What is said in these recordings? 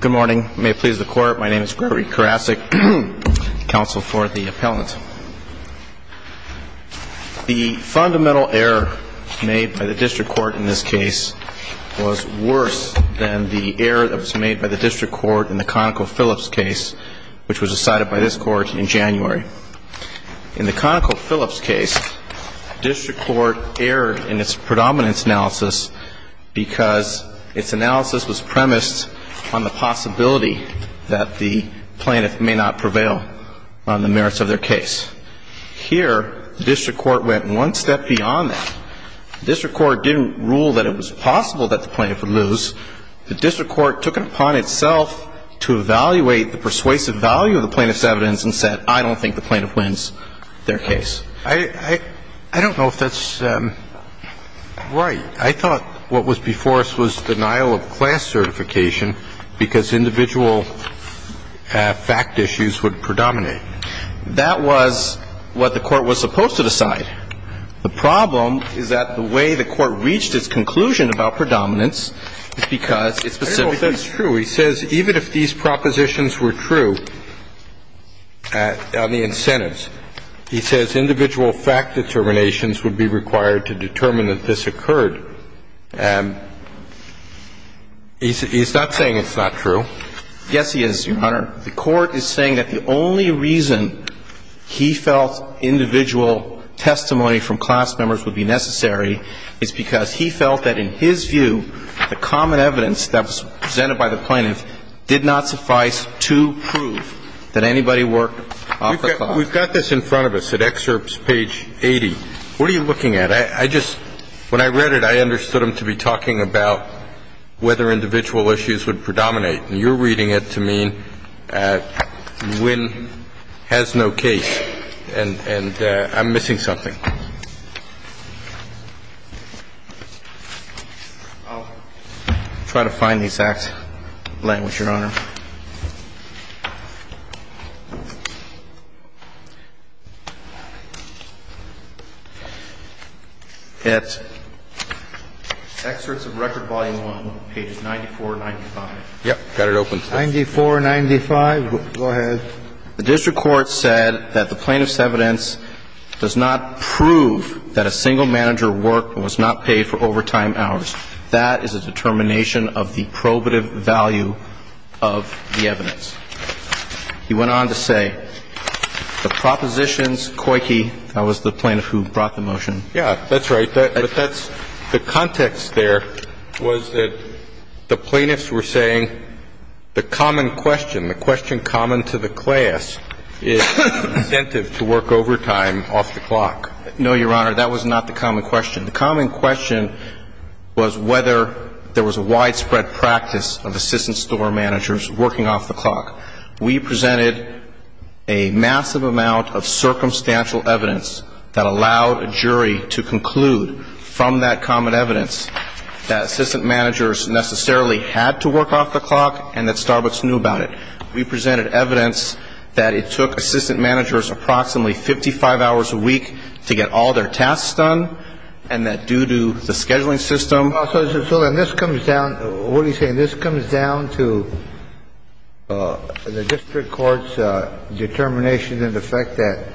Good morning. May it please the Court, my name is Gregory Karasik, Counsel for the Appellant. The fundamental error made by the District Court in this case was worse than the error that was made by the District Court in the ConocoPhillips case, which was decided by this Court in January. In the ConocoPhillips case, the District Court erred in its predominance analysis because its analysis was premised on the possibility that the plaintiff may not prevail on the merits of their case. Here, the District Court went one step beyond that. The District Court didn't rule that it was possible that the plaintiff would lose. The District Court took it upon itself to evaluate the persuasive value of the plaintiff's evidence and said, I don't think the plaintiff wins their case. I don't know if that's right. I thought what was before us was denial of class certification because individual fact issues would predominate. That was what the Court was supposed to decide. The problem is that the way the Court reached its conclusion about predominance is because it specifically – Well, if that's true, he says even if these propositions were true on the incentives, he says individual fact determinations would be required to determine that this occurred. He's not saying it's not true. Yes, he is, Your Honor. The Court is saying that the only reason he felt individual testimony from class members would be necessary is because he felt that in his view, the common evidence that was presented by the plaintiff did not suffice to prove that anybody worked off of class. We've got this in front of us at Excerpts, page 80. What are you looking at? I just – when I read it, I understood him to be talking about whether individual issues would predominate. And you're reading it to mean Nguyen has no case and I'm missing something. I'll try to find the exact language, Your Honor. At Excerpts of Record, Volume 1, pages 94, 95. Yep. Got it open. 94, 95. Go ahead. The district court said that the plaintiff's evidence does not prove that a single manager worked and was not paid for overtime hours. That is a determination of the probative value of the evidence. He went on to say, the propositions – Coyke, that was the plaintiff who brought the motion. Yeah, that's right. But that's – the context there was that the plaintiffs were saying the common question, the question common to the class, is incentive to work overtime off the clock. No, Your Honor. That was not the common question. The common question was whether there was a widespread practice of assistant store managers working off the clock. We presented a massive amount of circumstantial evidence that allowed a jury to conclude from that common evidence that assistant managers necessarily had to work off the clock and that Starbucks knew about it. We presented evidence that it took assistant managers approximately 55 hours a week to get all their tasks done and that due to the scheduling system So then this comes down – what are you saying? This comes down to the district court's determination and the fact that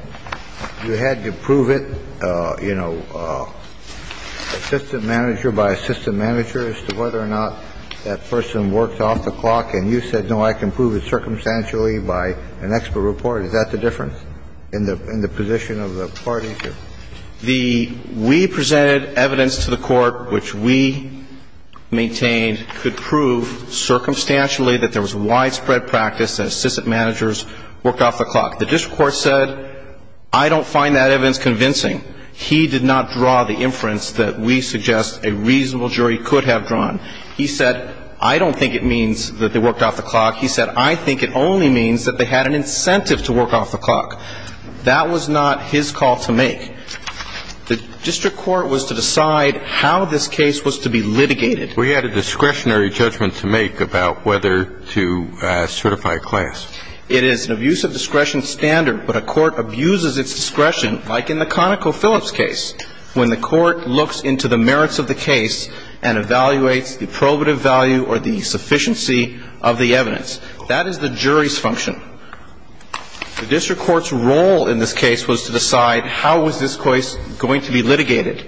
you had to prove it, you know, assistant manager by assistant manager, to whether or not that person worked off the clock. And you said, no, I can prove it circumstantially by an expert report. Is that the difference in the position of the parties? The – we presented evidence to the Court which we maintained could prove circumstantially that there was widespread practice that assistant managers worked off the clock. The district court said, I don't find that evidence convincing. He did not draw the inference that we suggest a reasonable jury could have drawn. He said, I don't think it means that they worked off the clock. He said, I think it only means that they had an incentive to work off the clock. That was not his call to make. The district court was to decide how this case was to be litigated. We had a discretionary judgment to make about whether to certify a class. It is an abuse of discretion standard, but a court abuses its discretion, like in the ConocoPhillips case, when the court looks into the merits of the case and evaluates the probative value or the sufficiency of the evidence. That is the jury's function. The district court's role in this case was to decide how was this case going to be litigated.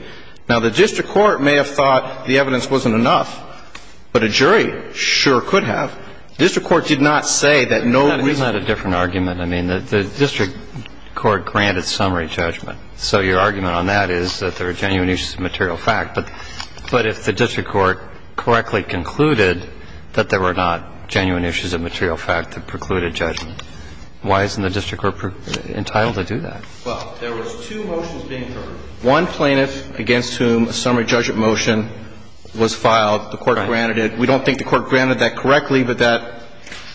Now, the district court may have thought the evidence wasn't enough, but a jury sure could have. The district court did not say that no reason to do so. That's not a different argument. I mean, the district court granted summary judgment. So your argument on that is that there are genuine issues of material fact. But if the district court correctly concluded that there were not genuine issues of material fact that precluded judgment, why isn't the district court entitled to do that? Well, there was two motions being heard. One plaintiff against whom a summary judgment motion was filed, the court granted it. We don't think the court granted that correctly, but that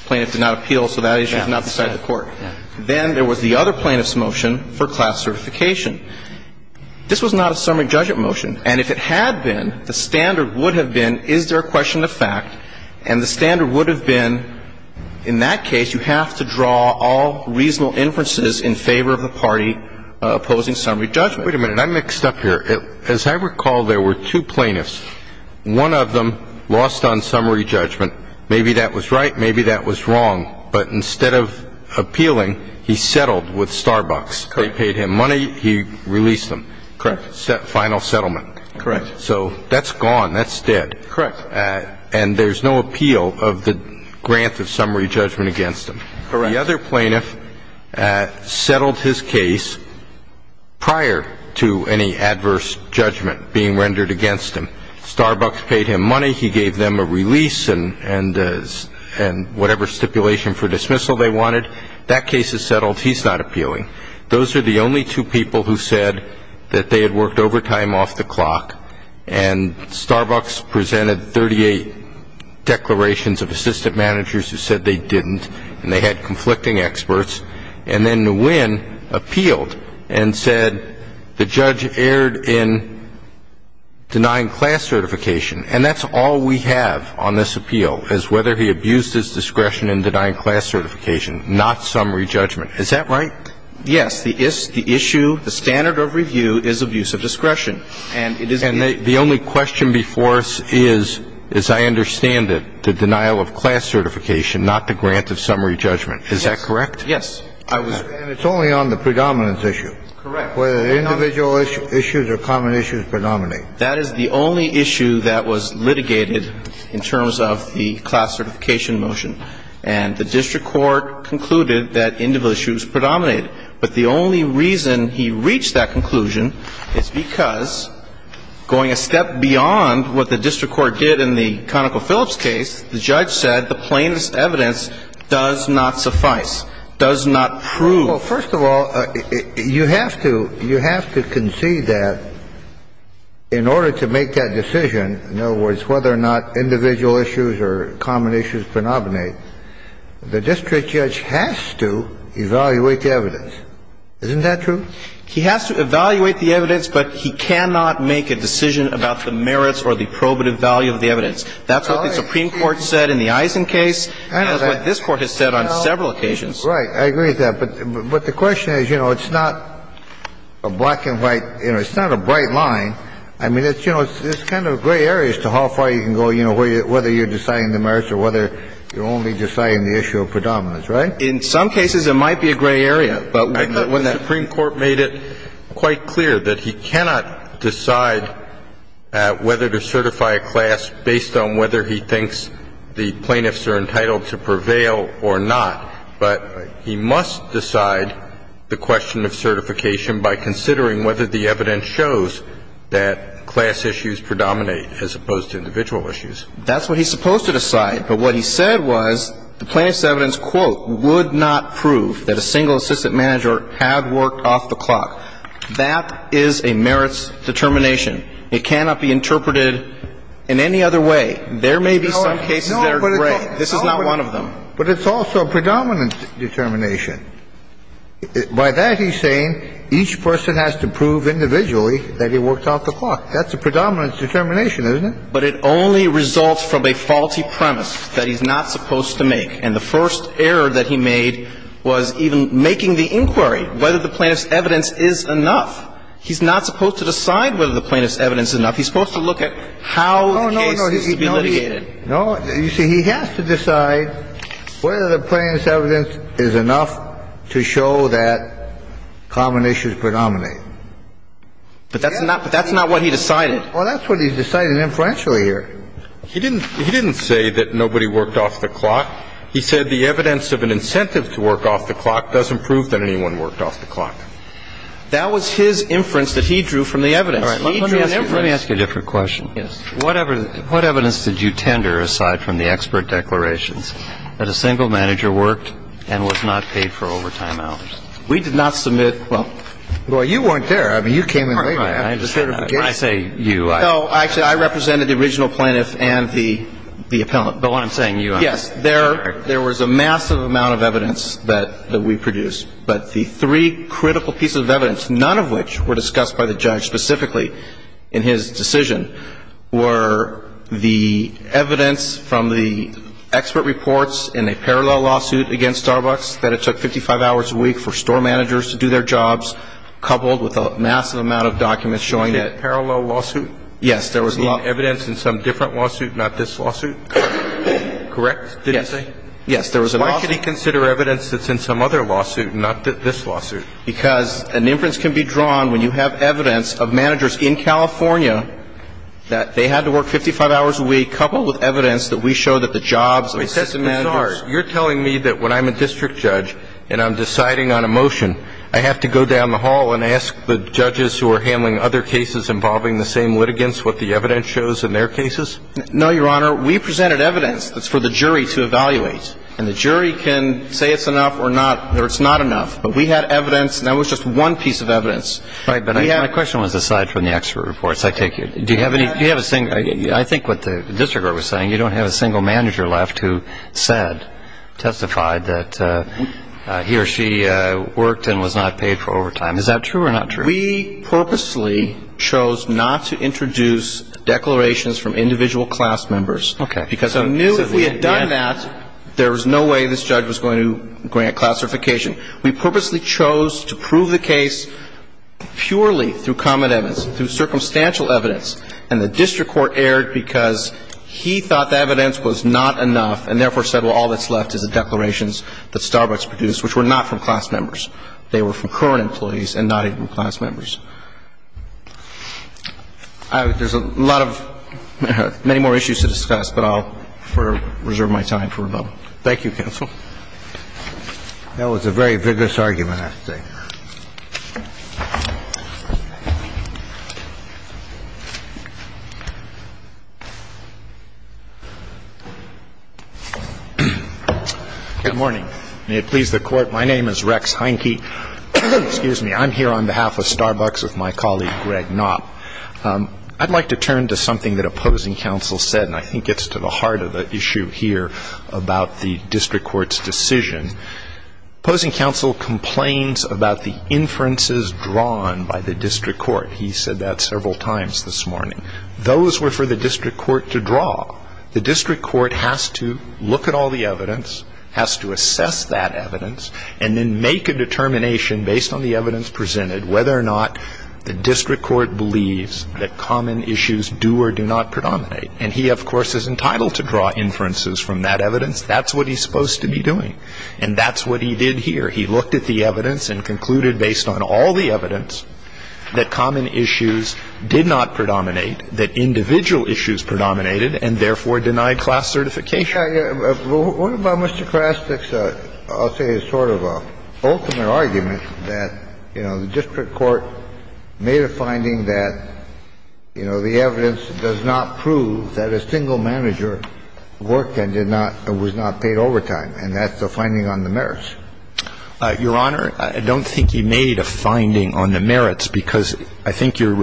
plaintiff did not appeal, so that issue is not beside the court. Then there was the other plaintiff's motion for class certification. This was not a summary judgment motion. And if it had been, the standard would have been, is there a question of fact? And the standard would have been, in that case, you have to draw all reasonable inferences in favor of the party opposing summary judgment. Wait a minute. I'm mixed up here. As I recall, there were two plaintiffs. One of them lost on summary judgment. Maybe that was right. Maybe that was wrong. But instead of appealing, he settled with Starbucks. They paid him money. He released him. Correct. Final settlement. Correct. So that's gone. That's dead. Correct. And there's no appeal of the grant of summary judgment against him. Correct. The other plaintiff settled his case prior to any adverse judgment being rendered against him. Starbucks paid him money. He gave them a release and whatever stipulation for dismissal they wanted. That case is settled. He's not appealing. Those are the only two people who said that they had worked overtime off the clock, and Starbucks presented 38 declarations of assistant managers who said they didn't and they had conflicting experts. And then Nguyen appealed and said the judge erred in denying class certification. And that's all we have on this appeal is whether he abused his discretion in denying class certification, not summary judgment. Is that right? The issue, the standard of review is abuse of discretion. And the only question before us is, as I understand it, the denial of class certification, not the grant of summary judgment. Is that correct? Yes. And it's only on the predominance issue. Correct. Whether the individual issues or common issues predominate. That is the only issue that was litigated in terms of the class certification motion. And the district court concluded that individual issues predominated. But the only reason he reached that conclusion is because going a step beyond what the district court did in the ConocoPhillips case, the judge said the plainest evidence does not suffice, does not prove. Well, first of all, you have to concede that in order to make that decision, in other words, whether or not individual issues or common issues predominate, the district judge has to evaluate the evidence. Isn't that true? He has to evaluate the evidence, but he cannot make a decision about the merits or the probative value of the evidence. That's what the Supreme Court said in the Eisen case. That's what this Court has said on several occasions. Right. I agree with that. But the question is, you know, it's not a black and white, you know, it's not a bright line. I mean, it's, you know, it's kind of gray areas to how far you can go, you know, whether you're deciding the merits or whether you're only deciding the issue of predominance. Right? In some cases, it might be a gray area. But when the Supreme Court made it quite clear that he cannot decide whether to certify a class based on whether he thinks the plaintiffs are entitled to prevail or not, but he must decide the question of certification by considering whether the evidence shows that class issues predominate as opposed to individual issues. That's what he's supposed to decide. But what he said was the plaintiff's evidence, quote, would not prove that a single assistant manager had worked off the clock. That is a merits determination. It cannot be interpreted in any other way. There may be some cases that are gray. This is not one of them. But it's also a predominance determination. By that, he's saying each person has to prove individually that he worked off the clock. That's a predominance determination, isn't it? But it only results from a faulty premise that he's not supposed to make. And the first error that he made was even making the inquiry whether the plaintiff's evidence is enough. He's not supposed to decide whether the plaintiff's evidence is enough. He's supposed to look at how the case is to be litigated. No. You see, he has to decide whether the plaintiff's evidence is enough to show that common issues predominate. But that's not what he decided. Well, that's what he decided influentially here. He didn't say that nobody worked off the clock. He said the evidence of an incentive to work off the clock doesn't prove that anyone worked off the clock. That was his inference that he drew from the evidence. All right. Let me ask you a different question. Yes. What evidence did you tender, aside from the expert declarations, that a single manager worked and was not paid for overtime hours? We did not submit. Well, you weren't there. I mean, you came in later. I just heard him say you. No. Actually, I represented the original plaintiff and the appellant. But what I'm saying, you are. Yes. There was a massive amount of evidence that we produced. But the three critical pieces of evidence, none of which were discussed by the judge specifically in his decision, were the evidence from the expert reports in a parallel lawsuit against Starbucks that it took 55 hours a week for store managers to do their job and to pay for overtime. I didn't have the evidence in my document showing that. Was it a parallel lawsuit? Yes. There was a lawsuit. Was it evidence in some different lawsuit, not this lawsuit? Correct? Yes. Did he say? Yes. There was a lawsuit. Why should he consider evidence that's in some other lawsuit, not this lawsuit? Because an inference can be drawn when you have evidence of managers in California that they had to work 55 hours a week, coupled with evidence that we show that the jobs of assistant managers. You're telling me that when I'm a district judge and I'm deciding on a motion, I have to go down the hall and ask the judges who are handling other cases involving the same litigants what the evidence shows in their cases? No, Your Honor. We presented evidence that's for the jury to evaluate. And the jury can say it's enough or not, or it's not enough. But we had evidence, and that was just one piece of evidence. Right. But my question was aside from the expert reports, I take it. Do you have any? Do you have a single? I think what the district court was saying, you don't have a single manager left who said, testified that he or she worked and was not paid for overtime. Is that true or not true? We purposely chose not to introduce declarations from individual class members. Okay. Because we knew if we had done that, there was no way this judge was going to grant classification. We purposely chose to prove the case purely through common evidence, through get a class-by-class sentence. The district court, however, erred because he thought the evidence was not enough and therefore said, well, all that's left is the declarations that Starbucks produced, which were not from class members. They were from current employees and not even class members. There's a lot of – many more issues to discuss, but I'll reserve my time for a moment. Thank you, counsel. That was a very vigorous argument, I have to say. Good morning. May it please the Court. My name is Rex Heinke. Excuse me. I'm here on behalf of Starbucks with my colleague, Greg Knopp. I'd like to turn to something that opposing counsel said, and I think it's to the heart of the issue here about the district court's decision. Opposing counsel complains about the inferences drawn by the district court. He said that several times this morning. Those were for the district court to draw. The district court has to look at all the evidence, has to assess that evidence, and then make a determination based on the evidence presented whether or not the district court believes that common issues do or do not predominate. And he, of course, is entitled to draw inferences from that evidence. That's what he's supposed to be doing. And that's what he did here. He looked at the evidence and concluded, based on all the evidence, that common issues did not predominate, that individual issues predominated, and therefore denied class certification. I think what about Mr. Krasnick's, I'll say, sort of ultimate argument that, you know, the district court made a finding that, you know, the evidence does not prove that a single manager worked and did not or was not paid overtime, and that's a finding on the merits. Your Honor, I don't think he made a finding on the merits because I think you're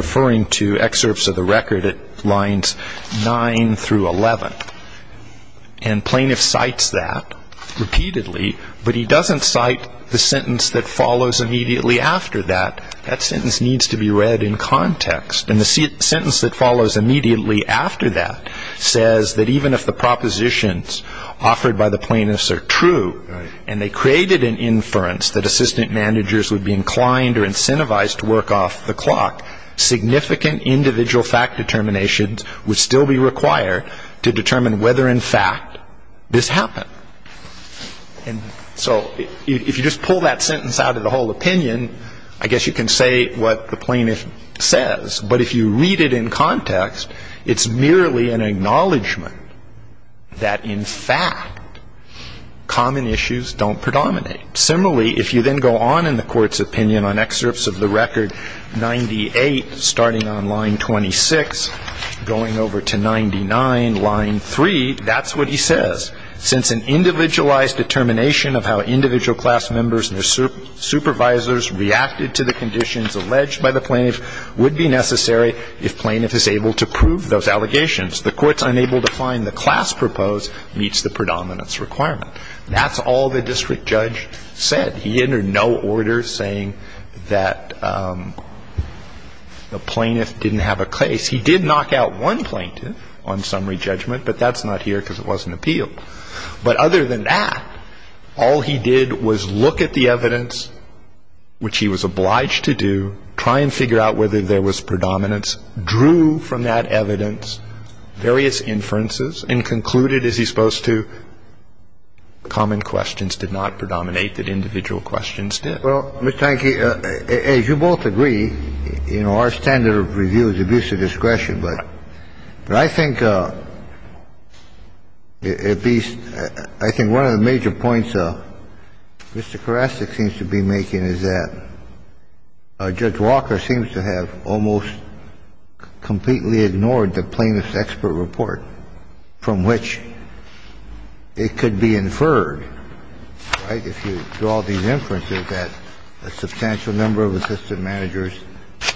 And plaintiff cites that repeatedly, but he doesn't cite the sentence that follows immediately after that. That sentence needs to be read in context. And the sentence that follows immediately after that says that even if the propositions offered by the plaintiffs are true, and they created an inference that assistant managers would be inclined or incentivized to work off the clock, significant individual fact determinations would still be required to determine whether, in fact, this happened. And so if you just pull that sentence out of the whole opinion, I guess you can say what the plaintiff says. But if you read it in context, it's merely an acknowledgment that, in fact, common issues don't predominate. Similarly, if you then go on in the Court's opinion on excerpts of the record 98 starting on line 26, going over to 99, line 3, that's what he says. Since an individualized determination of how individual class members and their supervisors reacted to the conditions alleged by the plaintiff would be necessary if plaintiff is able to prove those allegations. The Court's unable to find the class proposed meets the predominance requirement. That's all the district judge said. He entered no order saying that the plaintiff didn't have a case. He did knock out one plaintiff on summary judgment, but that's not here because it wasn't appealed. But other than that, all he did was look at the evidence, which he was obliged to do, try and figure out whether there was predominance, drew from that evidence various inferences, and concluded, as he's supposed to, common questions did not And that's all the district judge said. That's all the individual questions did. Well, Mr. Hanke, as you both agree, you know, our standard of review is abuse of discretion. Right. But I think at least one of the major points Mr. Karasik seems to be making is that if you draw these inferences that a substantial number of assistant managers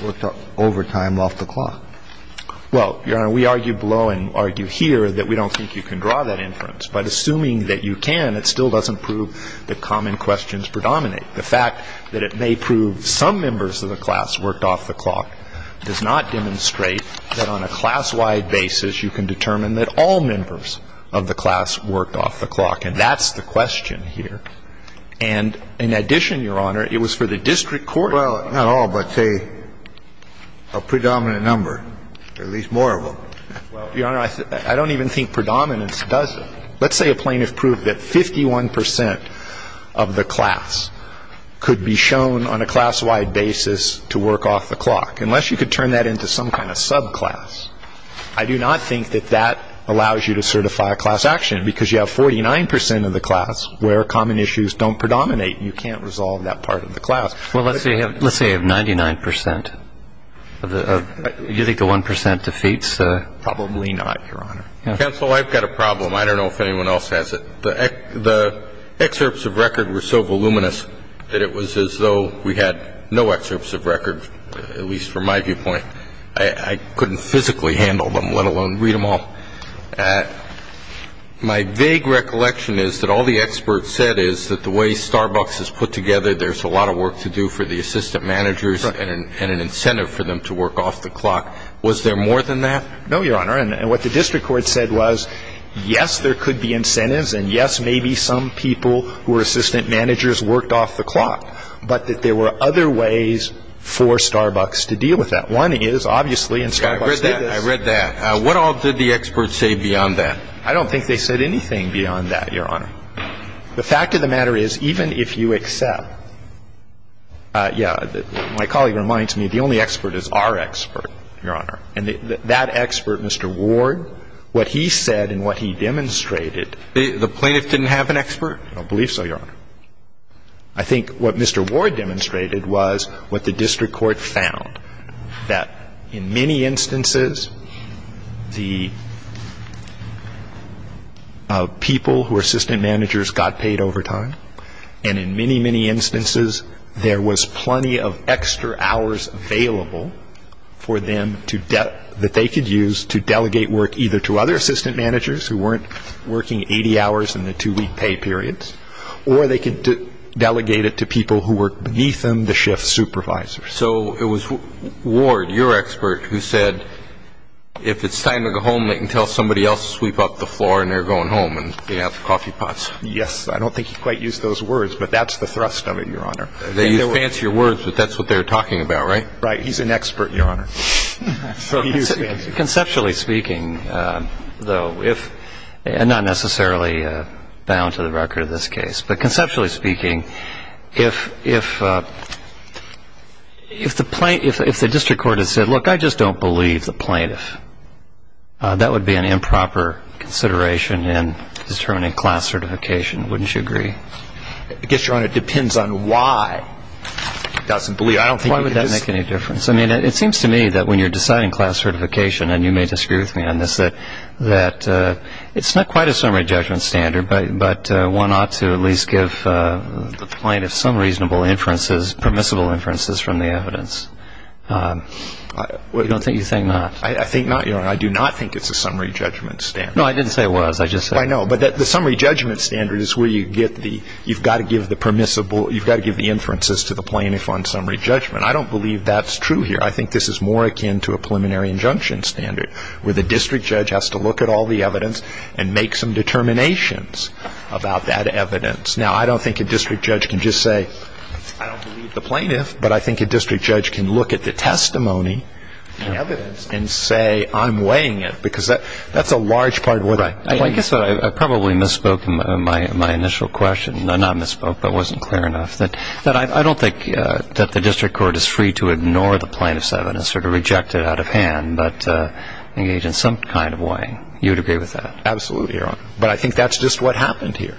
worked overtime off the clock. Well, Your Honor, we argue below and argue here that we don't think you can draw that inference. But assuming that you can, it still doesn't prove that common questions predominate. The fact that it may prove some members of the class worked off the clock does not demonstrate that on a class-wide basis you can determine that all members of the class worked off the clock. And that's the question here. And in addition, Your Honor, it was for the district court. Well, not all, but, say, a predominant number, at least more of them. Well, Your Honor, I don't even think predominance does it. Let's say a plaintiff proved that 51 percent of the class could be shown on a class-wide basis to work off the clock. Unless you could turn that into some kind of subclass, I do not think that that allows you to certify a class action because you have 49 percent of the class where common issues don't predominate. You can't resolve that part of the class. Well, let's say you have 99 percent. Do you think the 1 percent defeats? Probably not, Your Honor. Counsel, I've got a problem. I don't know if anyone else has it. The excerpts of record were so voluminous that it was as though we had no excerpts of record, at least from my viewpoint. I couldn't physically handle them, let alone read them all. My vague recollection is that all the experts said is that the way Starbucks is put together, there's a lot of work to do for the assistant managers and an incentive for them to work off the clock. Was there more than that? No, Your Honor, and what the district court said was, yes, there could be incentives and, yes, maybe some people who are assistant managers worked off the clock, but that there were other ways for Starbucks to deal with that. One is, obviously, and Starbucks did this. I read that. I read that. What all did the experts say beyond that? I don't think they said anything beyond that, Your Honor. The fact of the matter is, even if you accept, yeah, my colleague reminds me, the only expert is our expert, Your Honor, and that expert, Mr. Ward, what he said and what he demonstrated The plaintiff didn't have an expert? I believe so, Your Honor. I think what Mr. Ward demonstrated was what the district court found, that in many instances, the people who are assistant managers got paid overtime, and in many, many instances, there was plenty of extra hours available for them that they could use to delegate work either to other assistant managers who weren't working 80 hours in the two-week pay periods or they could delegate it to people who were beneath them, the shift supervisors. So it was Ward, your expert, who said if it's time to go home, they can tell somebody else to sweep up the floor, and they're going home, and they have coffee pots. Yes. I don't think he quite used those words, but that's the thrust of it, Your Honor. They used fancier words, but that's what they were talking about, right? Right. He's an expert, Your Honor. So he used fancier words. Conceptually speaking, though, and not necessarily bound to the record of this case, but conceptually speaking, if the district court had said, look, I just don't believe the plaintiff, that would be an improper consideration in determining class certification. Wouldn't you agree? I guess, Your Honor, it depends on why. Why would that make any difference? I mean, it seems to me that when you're deciding class certification, and you may disagree with me on this, that it's not quite a summary judgment standard, but one ought to at least give the plaintiff some reasonable inferences, permissible inferences from the evidence. I don't think you think not. I think not, Your Honor. I do not think it's a summary judgment standard. No, I didn't say it was. I just said it was. I know, but the summary judgment standard is where you've got to give the inferences to the plaintiff on summary judgment. I don't believe that's true here. I think this is more akin to a preliminary injunction standard, where the district judge has to look at all the evidence and make some determinations about that evidence. Now, I don't think a district judge can just say, I don't believe the plaintiff, but I think a district judge can look at the testimony and evidence and say, I'm weighing it, because that's a large part of what the plaintiff says. Right. I guess I probably misspoke in my initial question. Not misspoke, but wasn't clear enough. I don't think that the district court is free to ignore the plaintiff's evidence or to reject it out of hand, but engage in some kind of weighing. You would agree with that? Absolutely, Your Honor. But I think that's just what happened here,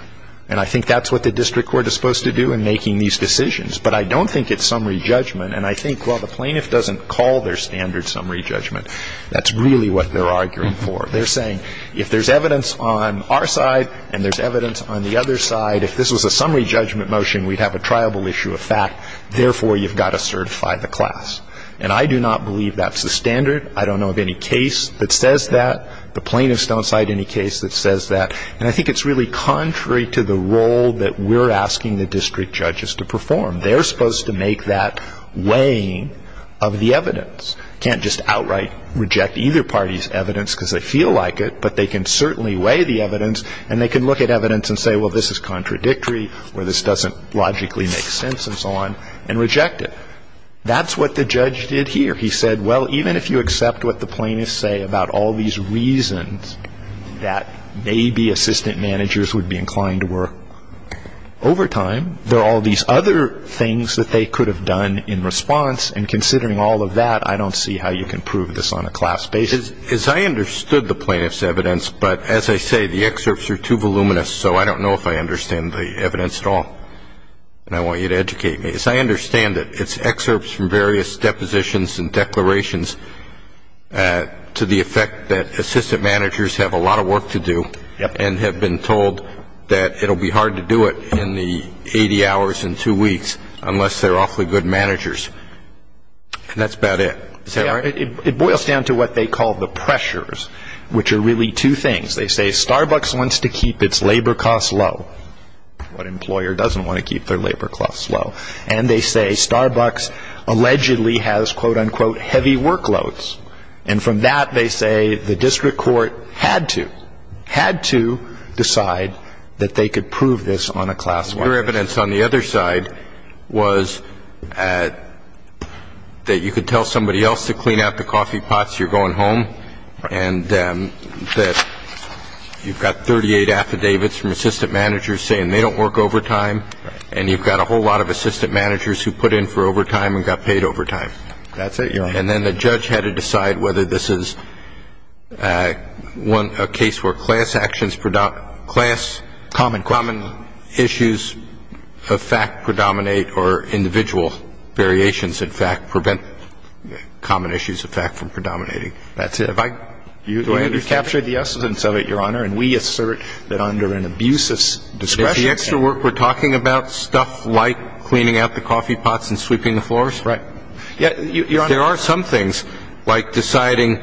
and I think that's what the district court is supposed to do in making these decisions. But I don't think it's summary judgment, and I think while the plaintiff doesn't call their standard summary judgment, that's really what they're arguing for. They're saying if there's evidence on our side and there's evidence on the other side, if this was a summary judgment motion, we'd have a triable issue of fact. Therefore, you've got to certify the class. And I do not believe that's the standard. I don't know of any case that says that. The plaintiffs don't cite any case that says that. And I think it's really contrary to the role that we're asking the district judges to perform. They're supposed to make that weighing of the evidence. Can't just outright reject either party's evidence because they feel like it, but they can certainly weigh the evidence, and they can look at evidence and say, well, this is contradictory, or this doesn't logically make sense, and so on, and reject it. That's what the judge did here. He said, well, even if you accept what the plaintiffs say about all these reasons that maybe assistant managers would be inclined to work overtime, there are all these other things that they could have done in response, and considering all of that, I don't see how you can prove this on a class basis. As I understood the plaintiffs' evidence, but as I say, the excerpts are too voluminous, so I don't know if I understand the evidence at all, and I want you to educate me. As I understand it, it's excerpts from various depositions and declarations to the effect that assistant managers have a lot of work to do and have been told that it will be hard to do it in the 80 hours in two weeks, unless they're awfully good managers. And that's about it. Is that right? It boils down to what they call the pressures, which are really two things. They say Starbucks wants to keep its labor costs low. What employer doesn't want to keep their labor costs low? And they say Starbucks allegedly has, quote, unquote, heavy workloads. And from that, they say the district court had to, had to decide that they could prove this on a class basis. The other evidence on the other side was that you could tell somebody else to clean out the coffee pots, you're going home, and that you've got 38 affidavits from assistant managers saying they don't work overtime, and you've got a whole lot of assistant managers who put in for overtime and got paid overtime. That's it. And then the judge had to decide whether this is a case where class actions predominate, class common issues of fact predominate, or individual variations in fact prevent common issues of fact from predominating. That's it. Do I understand? You captured the essence of it, Your Honor, and we assert that under an abuses discretion. Is the extra work we're talking about stuff like cleaning out the coffee pots and sweeping the floors? Right. There are some things like deciding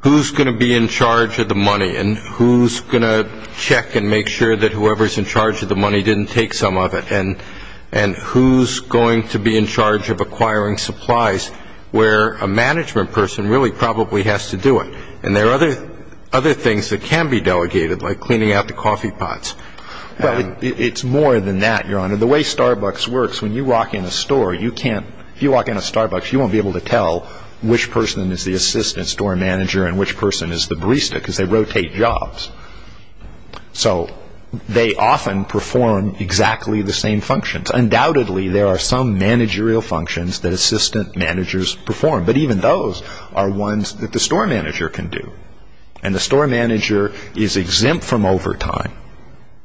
who's going to be in charge of the money and who's going to check and make sure that whoever's in charge of the money didn't take some of it and who's going to be in charge of acquiring supplies where a management person really probably has to do it. And there are other things that can be delegated, like cleaning out the coffee pots. It's more than that, Your Honor. The way Starbucks works, when you walk in a store, if you walk in a Starbucks, you won't be able to tell which person is the assistant store manager and which person is the barista because they rotate jobs. So they often perform exactly the same functions. Undoubtedly, there are some managerial functions that assistant managers perform, but even those are ones that the store manager can do. And the store manager is exempt from overtime.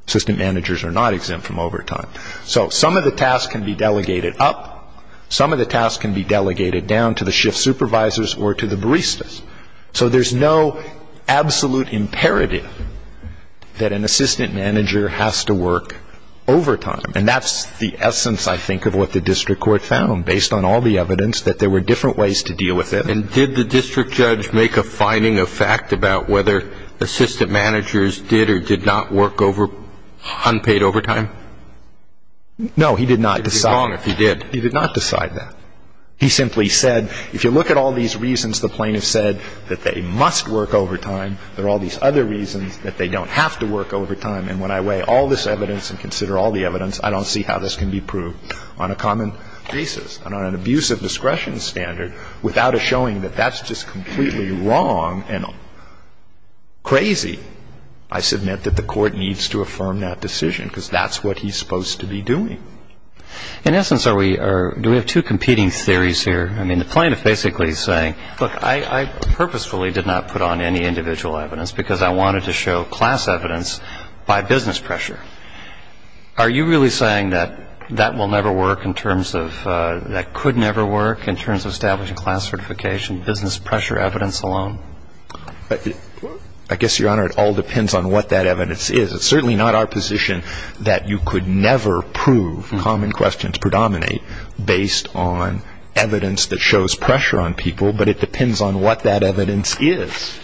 Assistant managers are not exempt from overtime. So some of the tasks can be delegated up. Some of the tasks can be delegated down to the shift supervisors or to the baristas. So there's no absolute imperative that an assistant manager has to work overtime. And that's the essence, I think, of what the district court found, based on all the evidence, that there were different ways to deal with it. And did the district judge make a finding of fact about whether assistant managers did or did not work unpaid overtime? No, he did not. He did wrong if he did. He did not decide that. He simply said, if you look at all these reasons the plaintiff said that they must work overtime, there are all these other reasons that they don't have to work overtime, and when I weigh all this evidence and consider all the evidence, I don't see how this can be proved on a common basis, on an abuse of discretion standard, without a showing that that's just completely wrong and crazy. I submit that the court needs to affirm that decision because that's what he's supposed to be doing. In essence, do we have two competing theories here? I mean, the plaintiff basically is saying, look, I purposefully did not put on any individual evidence because I wanted to show class evidence by business pressure. Are you really saying that that will never work in terms of, that could never work in terms of establishing class certification, business pressure evidence alone? I guess, Your Honor, it all depends on what that evidence is. It's certainly not our position that you could never prove common questions predominate based on evidence that shows pressure on people, but it depends on what that evidence is.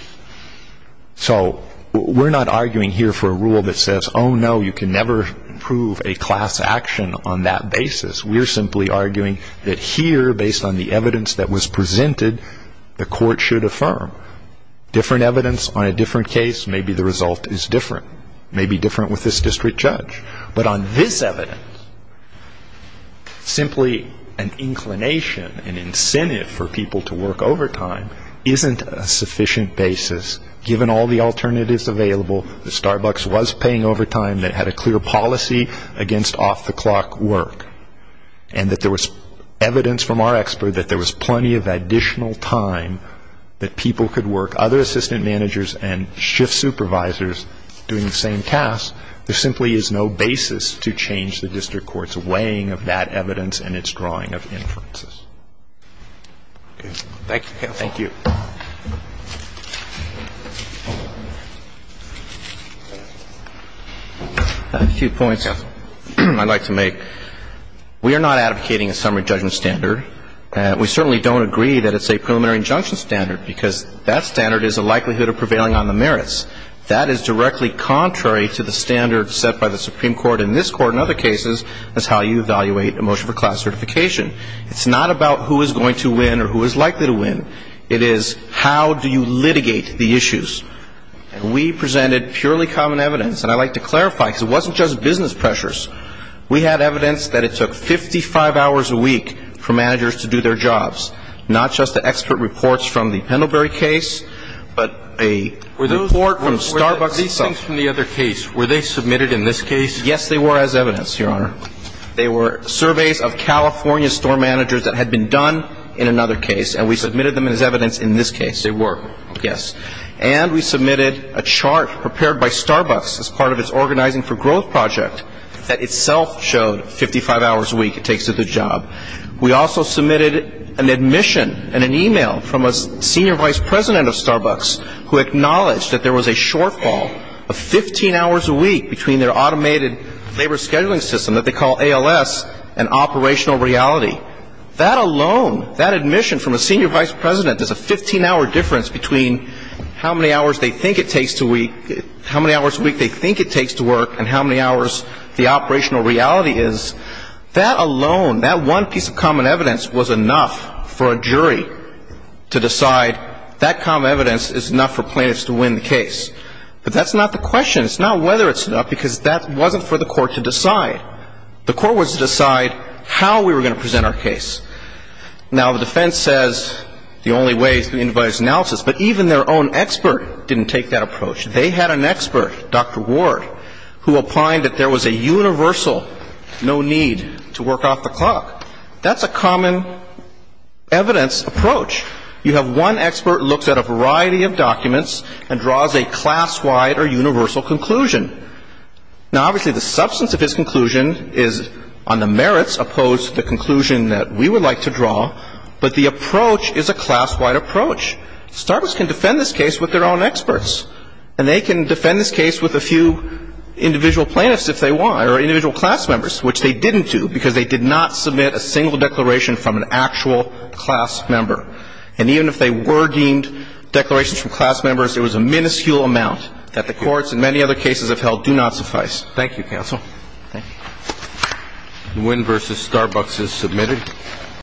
So we're not arguing here for a rule that says, oh, no, you can never prove a class action on that basis. We're simply arguing that here, based on the evidence that was presented, the court should affirm. Different evidence on a different case, maybe the result is different. Maybe different with this district judge. But on this evidence, simply an inclination, an incentive for people to work overtime isn't a sufficient basis, given all the alternatives available, that Starbucks was paying overtime, that had a clear policy against off-the-clock work, and that there was evidence from our expert that there was plenty of additional time that people could work. Other assistant managers and shift supervisors doing the same tasks, there simply is no basis to change the district court's weighing of that evidence and its drawing of inferences. Thank you. Thank you. A few points I'd like to make. We are not advocating a summary judgment standard. We certainly don't agree that it's a preliminary injunction standard, because that standard is a likelihood of prevailing on the merits. That is directly contrary to the standard set by the Supreme Court in this Court and other cases as how you evaluate a motion for class certification. It's not about who is going to win or who is likely to win. It is how do you litigate the issues. And we presented purely common evidence. And I'd like to clarify, because it wasn't just business pressures. We had evidence that it took 55 hours a week for managers to do their jobs, not just the expert reports from the Pendlebury case, but a report from Starbucks and such. Were those things from the other case, were they submitted in this case? Yes, they were as evidence, Your Honor. They were surveys of California store managers that had been done in another case, and we submitted them as evidence in this case. They were. Yes. And we submitted a chart prepared by Starbucks as part of its organizing for growth project that itself showed 55 hours a week it takes to do the job. We also submitted an admission and an e-mail from a senior vice president of Starbucks who acknowledged that there was a shortfall of 15 hours a week between their automated labor scheduling system that they call ALS and operational reality. That alone, that admission from a senior vice president, there's a 15-hour difference between how many hours they think it takes to work and how many hours the operational reality is. That alone, that one piece of common evidence was enough for a jury to decide that common evidence is enough for plaintiffs to win the case. But that's not the question. It's not whether it's enough because that wasn't for the court to decide. The court was to decide how we were going to present our case. Now, the defense says the only way is through individualized analysis, but even their own expert didn't take that approach. They had an expert, Dr. Ward, who opined that there was a universal no need to work off the clock. That's a common evidence approach. You have one expert who looks at a variety of documents and draws a class-wide or universal conclusion. Now, obviously, the substance of his conclusion is on the merits opposed to the conclusion that we would like to draw, but the approach is a class-wide approach. Starbucks can defend this case with their own experts, and they can defend this case with a few individual plaintiffs if they want or individual class members, which they didn't do because they did not submit a single declaration from an actual class member. And even if they were deemed declarations from class members, it was a minuscule amount that the courts in many other cases have held do not suffice. Thank you, counsel. Thank you. Nguyen v. Starbucks is submitted.